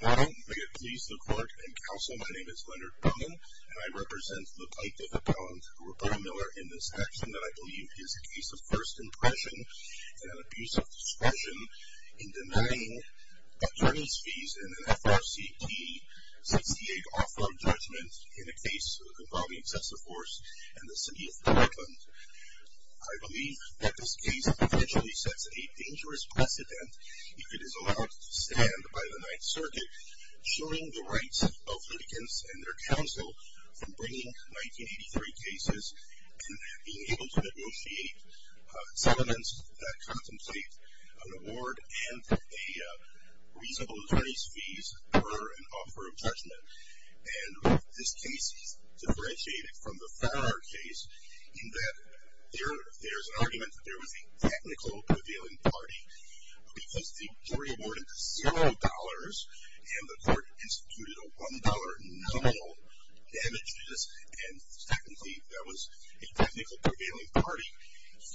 Good morning, Mayor, Police, the Clerk, and Council. My name is Leonard Brumman, and I represent the Plaintiff Appellant, Roberta Miller, in this action that I believe is a case of first impression and abuse of discretion in denying attorney's fees in an FRCT 68 off-farm judgment in a case involving excessive force in the City of Portland. I believe that this case potentially sets a dangerous precedent if it is allowed to stand by the Ninth Circuit, shoring the rights of litigants and their counsel from bringing 1983 cases and being able to negotiate settlements that contemplate an award and a reasonable attorney's fees per an offer of judgment. And this case is differentiated from the Farrar case in that there's an argument that there was a technical prevailing party, but because the jury awarded $0 and the court instituted a $1 nominal damage to this, and secondly, there was a technical prevailing party,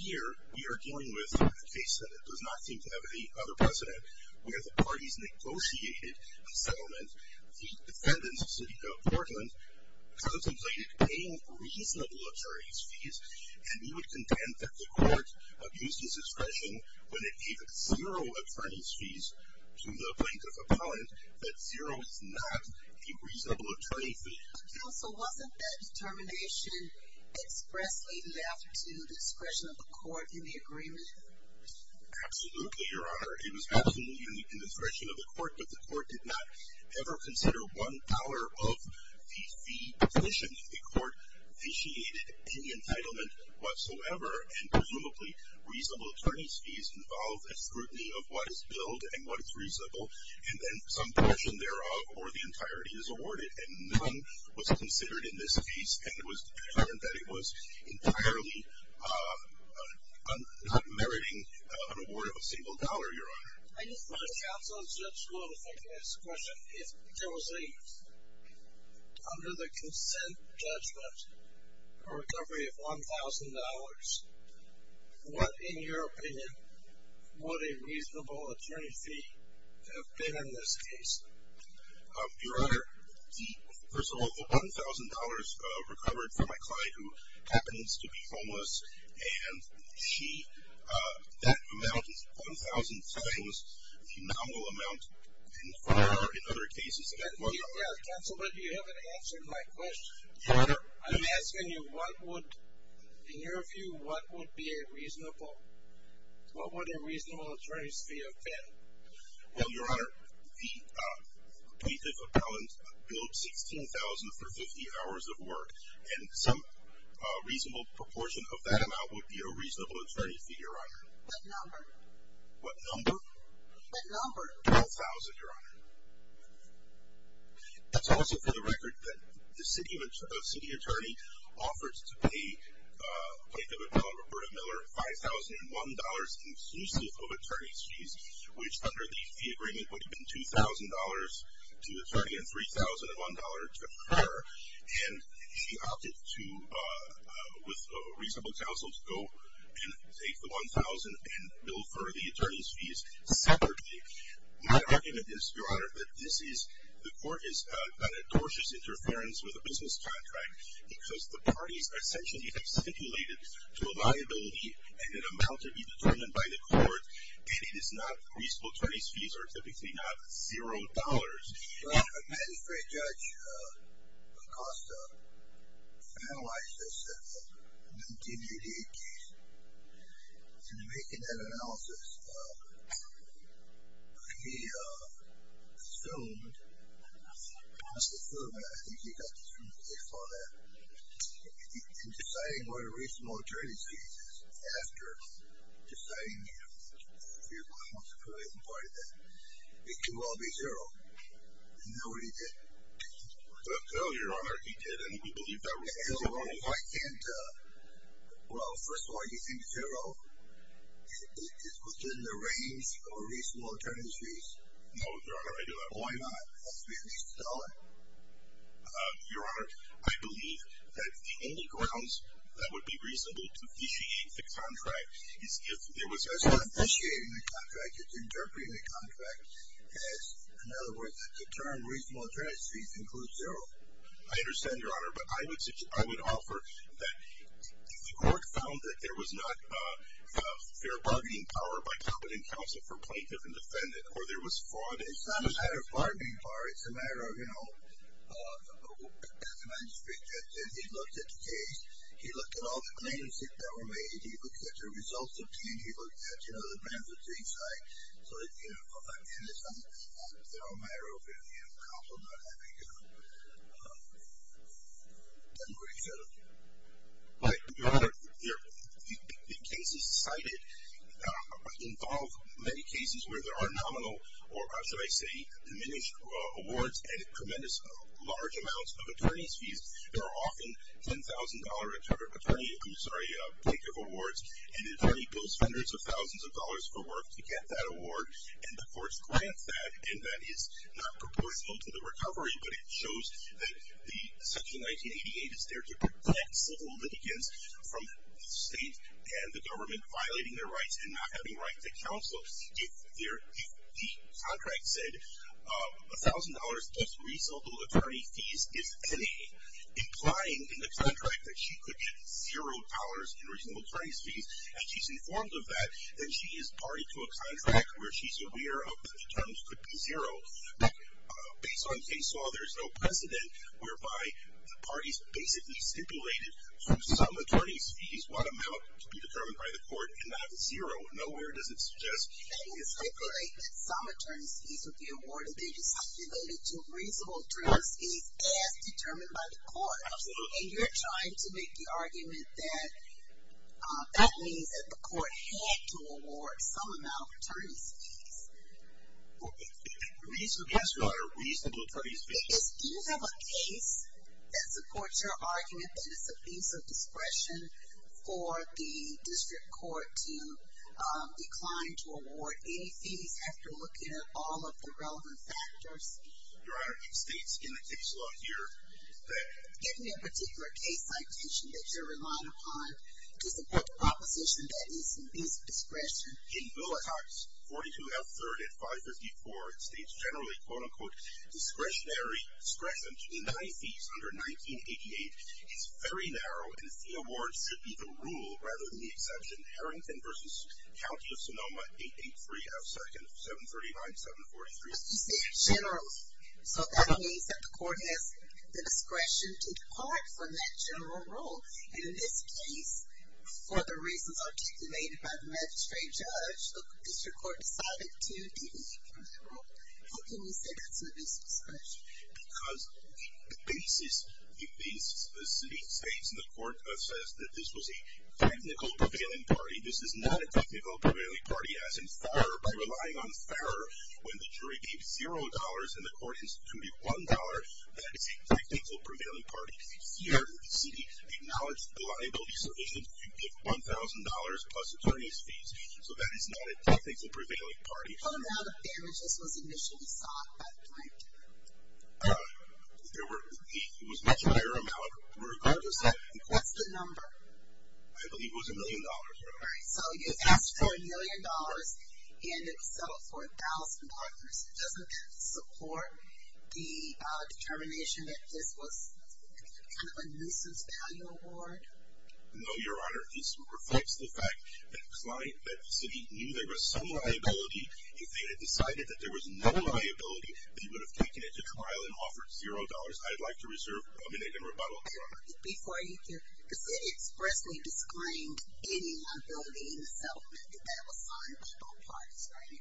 here we are dealing with a case that does not seem to have any other precedent where the parties negotiated a settlement. The defendant, the City of Portland, contemplated paying reasonable attorney's fees, and he would contend that the court abused his discretion when it gave $0 attorney's fees to the Plaintiff Appellant, that $0 is not a reasonable attorney's fee. Counsel, wasn't that determination expressly left to discretion of the court in the agreement? Absolutely, Your Honor. It was absolutely in the discretion of the court, but the court did not ever consider $1 of the fee position. The court vitiated any entitlement whatsoever, and presumably reasonable attorney's fees involve a scrutiny of what is billed and what is reasonable, and then some portion thereof or the entirety is awarded. None was considered in this case, and it was determined that it was entirely not meriting an award of a single dollar, Your Honor. Counsel, if I could ask a question. If there was a, under the consent judgment, a recovery of $1,000, what, in your opinion, would a reasonable attorney's fee have been in this case? Your Honor, the, first of all, the $1,000 recovered from my client who happens to be homeless, and she, that amount, $1,000 today, was a phenomenal amount in other cases. Counsel, but you haven't answered my question. Your Honor. I'm asking you, what would, in your view, what would be a reasonable, what would a reasonable attorney's fee have been? Well, Your Honor, the plaintiff appellant billed $16,000 for 50 hours of work, and some reasonable proportion of that amount would be a reasonable attorney's fee, Your Honor. What number? What number? What number? $12,000, Your Honor. That's also for the record that the city attorney offers to pay plaintiff appellant Roberta Miller $5,001 inclusive of attorney's fees, which under the fee agreement would have been $2,000 to the attorney and $3,001 to her, and she opted to, with reasonable counsel, to go and take the $1,000 and bill for the attorney's fees separately. My argument is, Your Honor, that this is, the court has done a docious interference with a business contract because the parties essentially have stipulated to a liability an amount to be determined by the court, and it is not reasonable attorney's fees are typically not $0. The magistrate judge Acosta analyzed this in the 1988 case, and in making that analysis, he assumed, I think he got this from the case file there, in deciding what a reasonable attorney's fee is, after deciding that it could well be $0, and nobody did. No, Your Honor, he did, and we believe that was the case. Well, first of all, do you think $0 is within the range of a reasonable attorney's fees? No, Your Honor, I do not. Why not? That would be at least $1. Your Honor, I believe that the only grounds that would be reasonable to officiate the contract is if there was, I'm not officiating the contract, you're interpreting the contract as, in other words, the term reasonable attorney's fees includes $0. I understand, Your Honor, but I would offer that if the court found that there was not fair bargaining power by covenant counsel for plaintiff and defendant, or there was fraud, it's not a matter of bargaining power. It's a matter of, you know, as the man just predicted, he looked at the case. He looked at all the claims that were made. He looked at the results obtained. He looked at, you know, the brands of things, right? So, you know, again, it's a matter of covenant counsel not having, you know, done what he should have done. But, Your Honor, the cases cited involve many cases where there are nominal or should I say diminished awards and tremendous large amounts of attorney's fees. There are often $10,000 attorney, I'm sorry, plaintiff awards and attorney bills fenders of thousands of dollars for work to get that award, and the courts grant that, and that is not proportional to the recovery, but it shows that the section 1988 is there to protect civil litigants from the state and the government violating their rights and not having right to counsel. If the contract said $1,000 plus reasonable attorney fees, if any, implying in the contract that she could get $0 in reasonable attorney's fees, and she's informed of that, then she is party to a contract where she's aware of that the terms could be $0. Based on face law, there's no precedent whereby the parties basically stipulated through some attorney's fees what amount to be determined by the court and not $0. Nowhere does it suggest. Some attorney's fees would be awarded. They just stipulated to reasonable attorney's fees as determined by the court. Absolutely. And you're trying to make the argument that that means that the court had to award some amount of attorney's fees. Reasonable, yes, Your Honor, reasonable attorney's fees. Do you have a case that supports your argument that it's a piece of discretion for the district court to decline to award any fees after looking at all of the relevant factors? Your Honor, it states in the case law here that. Give me a particular case citation that you're relying upon to support the proposition that it's discretion. In Bill of Rights 42L3 and 554, it states generally, quote, unquote, discretionary discretion to deny fees under 1988. It's very narrow. And the award should be the rule rather than the exception. Harrington v. County of Sonoma 88302nd 739-743. But you say generally. So that means that the court has the discretion to depart from that general rule. And in this case, for the reasons articulated by the magistrate judge, the district court decided to deviate from the rule. How can you say that's an abuse of discretion? Because the basis, it states in the court, says that this was a technical prevailing party. This is not a technical prevailing party, as in Farrer. By relying on Farrer, when the jury gave $0 and the court instituted $1, that is a technical prevailing party. Here, the city acknowledged the liability sufficient to give $1,000 plus attorney's fees. So that is not a technical prevailing party. The amount of damages was initially sought by the client. It was a much higher amount. Regardless of that. What's the number? I believe it was $1 million. All right. So you asked for $1 million, and it was settled for $1,000. It doesn't support the determination that this was kind of a nuisance value award? No, Your Honor. Your Honor, this reflects the fact that the city knew there was some liability. If they had decided that there was no liability, that he would have taken it to trial and offered $0, I'd like to reserve a minute in rebuttal, Your Honor. Before you do, the city expressly disclaimed any liability in the settlement. That was signed by both parties, right?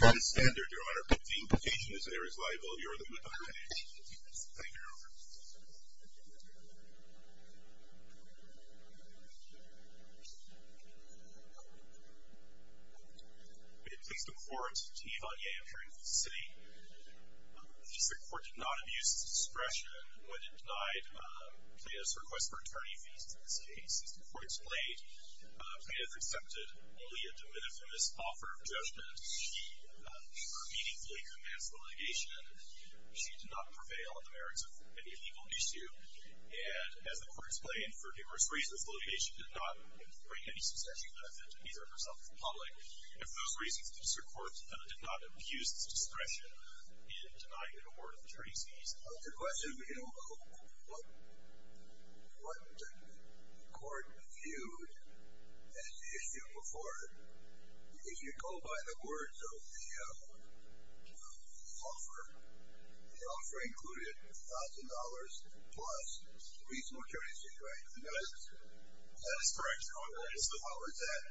That is standard, Your Honor. But the implication is that there is liability. Thank you. Thank you. Please stand, Your Honor. It pleads the court to Yvonne Yang, hearing from the city, that the court did not abuse its discretion when it denied Plano's request for attorney fees in this case. As the court explained, Plano's accepted only a de minimis offer of judgment. She immediately commenced litigation. She did not prevail on the merits of any legal issue. And as the court explained, for diverse reasons, litigation did not bring any substantial benefit to either herself or the public. And for those reasons, Mr. Court did not abuse its discretion in denying an award of attorney's fees. The question being, what did the court view as the issue before? If you go by the words of the offer, the offer included $1,000 plus reasonable attorney's fees, right? That is correct, Your Honor. How is that?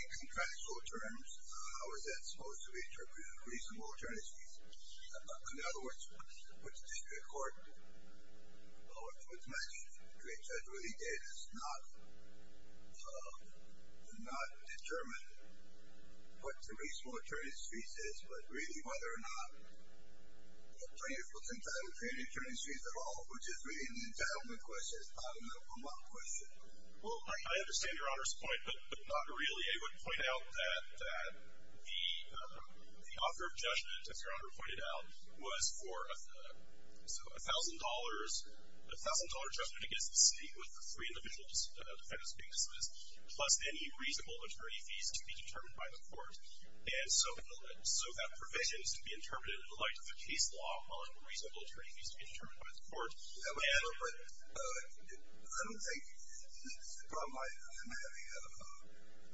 In contractual terms, how is that supposed to be interpreted as reasonable attorney's fees? In other words, what the district court, what the district judge really did is not determine what the reasonable attorney's fees is, but really whether or not the plaintiff was entitled to any attorney's fees at all, which is really an entitlement question. It's not a middle-of-the-road question. Well, I understand Your Honor's point, but not really. I would point out that the offer of judgment, as Your Honor pointed out, was for a $1,000 judgment against the city with the three individual defendants being dismissed, plus any reasonable attorney's fees to be determined by the court. And so that provision is to be interpreted in the light of the case law on reasonable attorney's fees to be determined by the court. I don't think it's the problem I'm having.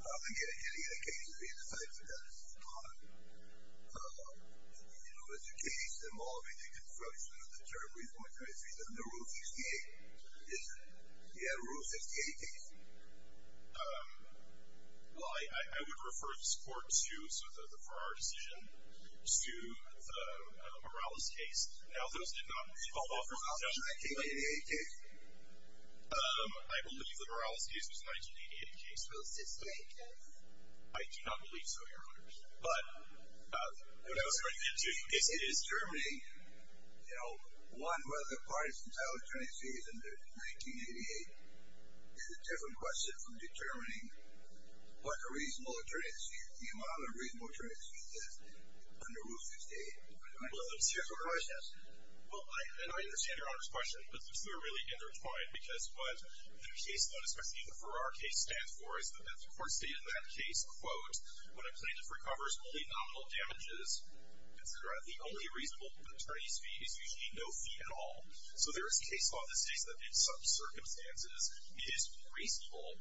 I think any other case would be decided for that. Your Honor, the case involving the construction of the term reasonable attorney's fees under Rule 68. Is that a Rule 68 case? Well, I would refer this court to, for our decision, to the Morales case. Now, those did not fall off. Was that a 1988 case? I believe the Morales case was a 1988 case. Rule 68 case? I do not believe so, Your Honor. But what I was referring to is determining, you know, one, whether the parties can file attorney's fees under 1988. It's a different question from determining what a reasonable attorney's fee, the amount of reasonable attorney's fees under Rule 68. Well, let's hear what the judge says. Well, and I understand Your Honor's question, but it's really intertwined because what the case law, especially in the Farrar case, stands for, as the court stated in that case, quote, when a plaintiff recovers only nominal damages, consider that the only reasonable attorney's fee is usually no fee at all. So there is case law that states that in some circumstances it is reasonable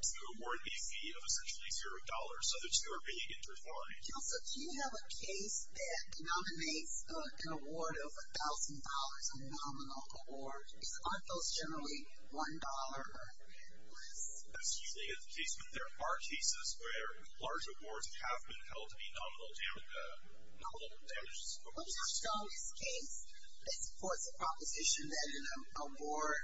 to award a fee of essentially zero dollars. So the two are being intertwined. Counsel, do you have a case that denominates an award of $1,000, a nominal award? Aren't those generally $1 or less? That's usually the case, but there are cases where large awards have been held to be nominal damages. Let me ask you about this case. This court's proposition that an award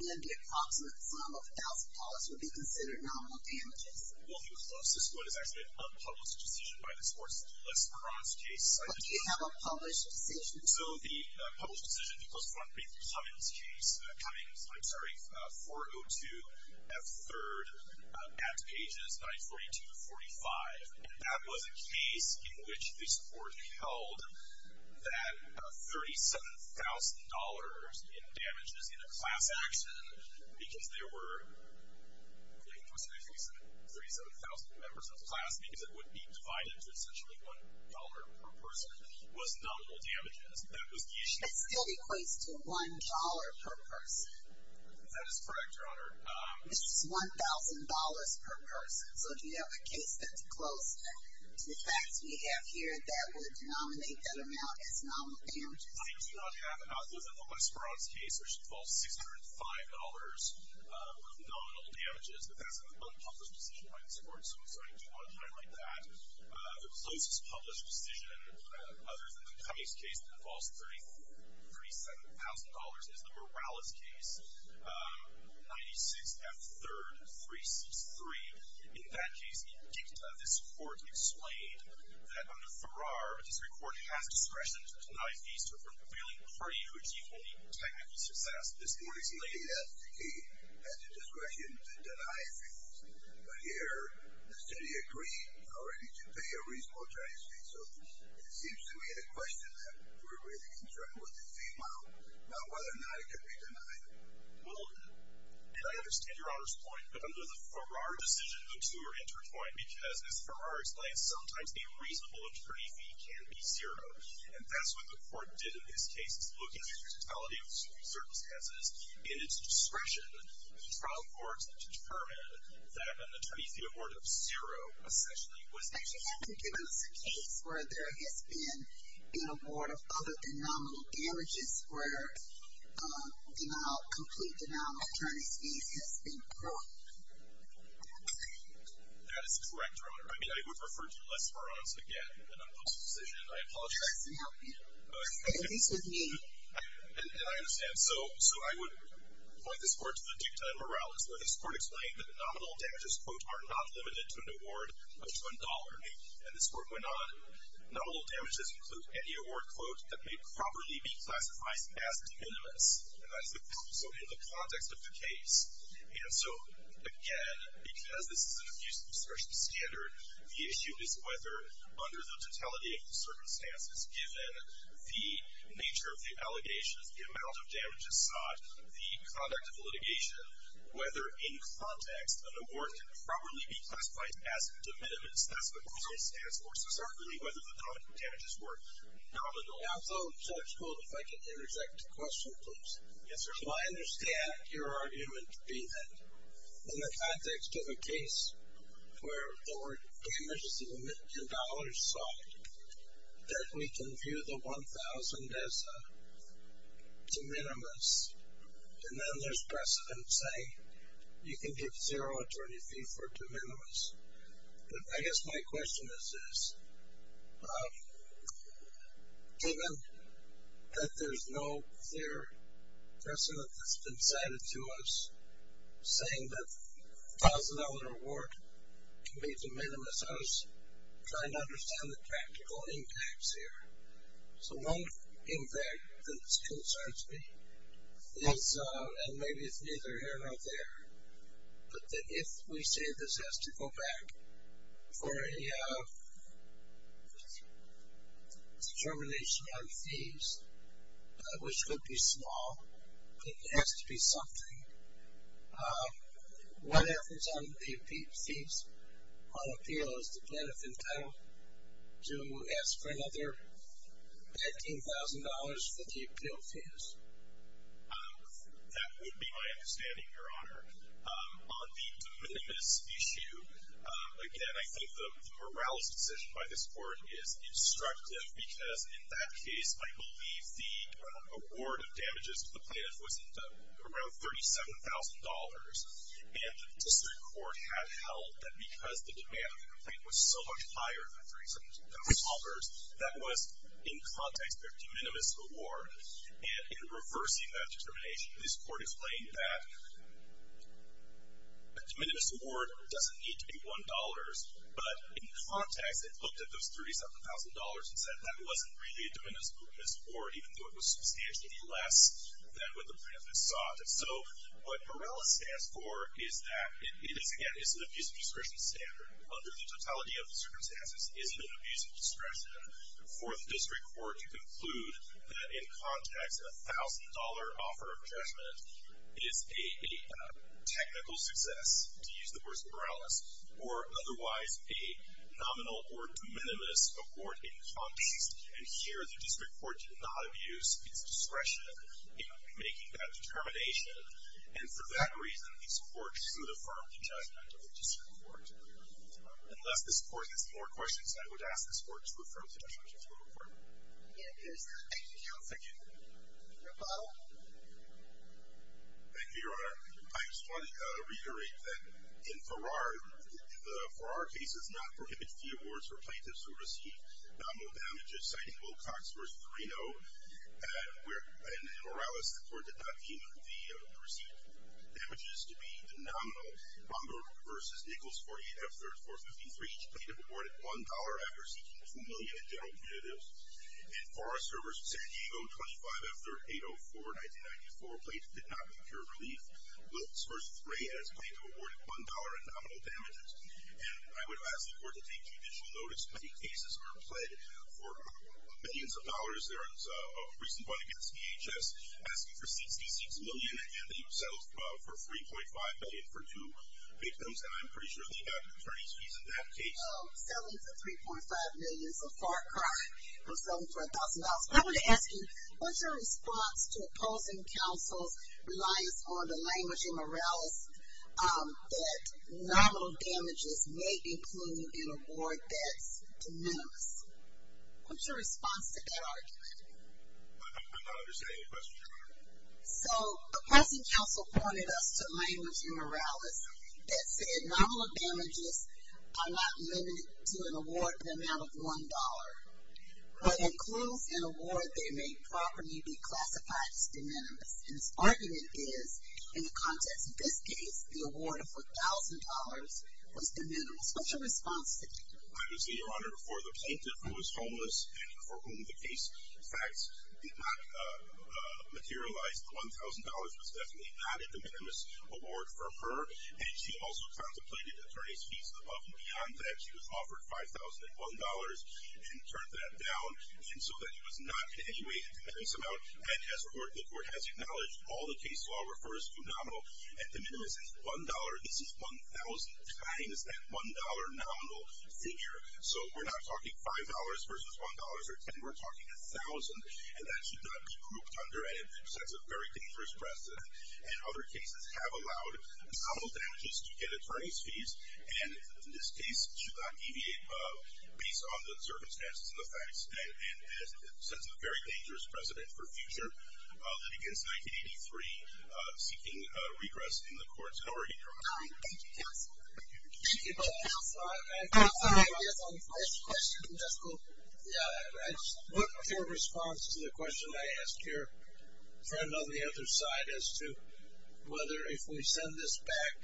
in the approximate sum of $1,000 would be considered nominal damages. Well, the closest one is actually an unpublished decision by this court's less promised case. But do you have a published decision? So the published decision, the closest one being Cummings' case, Cummings, I'm sorry, 402 F. 3rd at pages 942 to 45. And that was a case in which this court held that $37,000 in damages in a class action because there were, I think it was 37,000 members of the class because it would be divided to essentially $1 per person, was nominal damages. That was the issue. It still equates to $1 per person. That is correct, Your Honor. It's just $1,000 per person. So do you have a case that's close to the facts we have here that would denominate that amount as nominal damages? I do not have an outlook on the Westbrook's case, which involves $605 of nominal damages, but that's an unpublished decision by this court, so I do want to highlight that. The closest published decision other than the Cummings case that involves $37,000 is the Morales case, 96 F. 3rd, 363. In that case, in dicta, this court explained that under Farrar, the district court has discretion to deny fees to a prevailing party who achieves only technical success. This morning's lady asked if she had the discretion to deny fees. But here, the city agreed already to pay a reasonable Chinese fee, so it seems to me the question that we're really in trouble with the female about whether or not it can be denied. Well, and I understand Your Honor's point, but under the Farrar decision, the two are intertwined because, as Farrar explains, sometimes a reasonable attorney fee can be zero, and that's what the court did in this case is look at the totality of circumstances and its discretion in the trial court to determine that an attorney fee of order of zero essentially was denied. Actually, I think it was a case where there has been an award of other than nominal damages where a complete denial of an attorney's fees has been brought. That is correct, Your Honor. I mean, I would refer to you less for us again, an unpopular decision, and I apologize. Yes, no. At least with me. And I understand. So I would point this court to the dicta in Morales where this court explained that the nominal damages, quote, are not limited to an award of $1. And this court went on, nominal damages include any award, quote, that may properly be classified as de minimis, and that's also in the context of the case. And so, again, because this is an abuse of discretion standard, the issue is whether under the totality of the circumstances, given the nature of the allegations, the amount of damages sought, the conduct of litigation, whether in context an award can properly be classified as de minimis. That's what de minimis stands for. So certainly whether the damages were nominal. Now, so, Judge Gold, if I can interject a question, please. Yes, sir. I understand your argument being that in the context of a case where the word damages of $1 million sought, that we can view the $1,000 as de minimis, and then there's precedent saying you can give $0 at 20 feet for de minimis. But I guess my question is this. Given that there's no clear precedent that's been cited to us saying that the $1,000 award can be de minimis, I was trying to understand the practical impacts here. So one impact that concerns me is, and maybe it's neither here nor there, but that if we say this has to go back for a determination on fees, which could be small, it has to be something, what happens on the fees on appeal? Is the plaintiff entitled to ask for another $15,000 for the appeal fees? That would be my understanding, Your Honor. On the de minimis issue, again, I think the morales decision by this Court is instructive because in that case the plaintiff was entitled to around $37,000, and the District Court had held that because the demand of the complaint was so much higher than 37,000 dollars, that was in context their de minimis award. And in reversing that determination, this Court explained that a de minimis award doesn't need to be $1, but in context it looked at those $37,000 and said that wasn't really a de minimis award, even though it was substantially less than what the plaintiff had sought. So what morales stands for is that it is, again, is an abuse of discretion standard. Under the totality of the circumstances, it is an abuse of discretion for the District Court to conclude that in context a $1,000 offer of judgment is a technical success, to use the words of morales, or otherwise a nominal or de minimis award in context. And here the District Court did not abuse its discretion in making that determination. And for that reason, this Court should affirm the judgment of the District Court. Unless this Court has more questions, I would ask this Court to affirm the judgment of the Court. Thank you. Thank you. Thank you, Your Honor. I just want to reiterate that in Farrar, the Farrar case does not prohibit fee awards for plaintiffs who receive nominal damages, citing Wilcox versus Reno. And in Morales, the Court did not deem the received damages to be the nominal. Bomberg versus Nichols 48 F-3rd 453, each plaintiff awarded $1 after seeking $2 million in general punitives. In Farrar versus San Diego 25 F-3rd 804 1994, plaintiff did not procure relief. Wilcox versus Rayhead, each plaintiff awarded $1 in nominal damages. And I would ask the Court to take judicial notice. Many cases are pled for millions of dollars. There was a recent one against DHS asking for 66 million, and they settled for 3.5 million for two victims, and I'm pretty sure they got attorney's fees in that case. Settling for 3.5 million is a far cry from settling for $1,000. I want to ask you, what's your response to opposing counsel's reliance on the language in Morales that nominal damages may include an award that's de minimis? What's your response to that argument? I'm not understanding your question, Your Honor. So, opposing counsel pointed us to language in Morales that said, nominal damages are not limited to an award of the amount of $1, but includes an award that may properly be classified as de minimis. And his argument is, in the context of this case, the award of $1,000 was de minimis. What's your response to that? I would say, Your Honor, for the plaintiff who was homeless and for whom the case facts did not materialize, the $1,000 was definitely not a de minimis award for her, and she also contemplated attorney's fees above and beyond that. She was offered $5,001 and turned that down, and so that it was not in any way a de minimis amount. And as a court, the court has acknowledged all the case law refers to nominal de minimis as $1. This is $1,000 times that $1 nominal figure. So we're not talking $5 versus $1 or $10. We're talking $1,000, and that should not be grouped under a sense of very dangerous precedent. And other cases have allowed nominal damages to get attorney's fees, and this case should not deviate based on the circumstances and the facts, and a sense of very dangerous precedent for future litigants, seeking regress in the courts. How are you? What's your response to the question I asked your friend on the other side as to whether if we send this back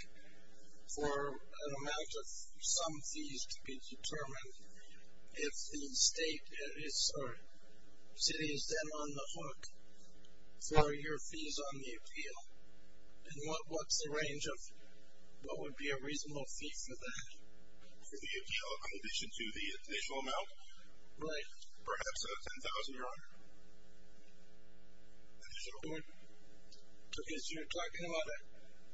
for an amount of some fees to be determined, if the state, or city is then on the hook for your fees on the appeal? And what's the range of what would be a reasonable fee for that? For the appeal in addition to the additional amount? Right. Perhaps a $10,000, Your Honor? Additional amount? Because you're talking about a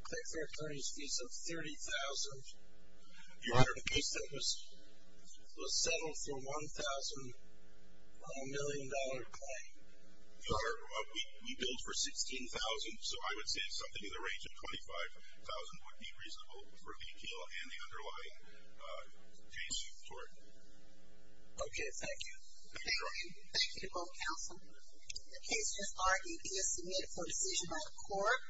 taxpayer attorney's fees of $30,000. Your Honor. In the case that was settled for $1,000 million claim. Your Honor, we billed for $16,000, so I would say something in the range of $25,000 would be reasonable for the appeal and the underlying case court. Okay. Thank you. Thank you, Your Honor. Thank you to both counsel. The case just argued is submitted for decision by the court.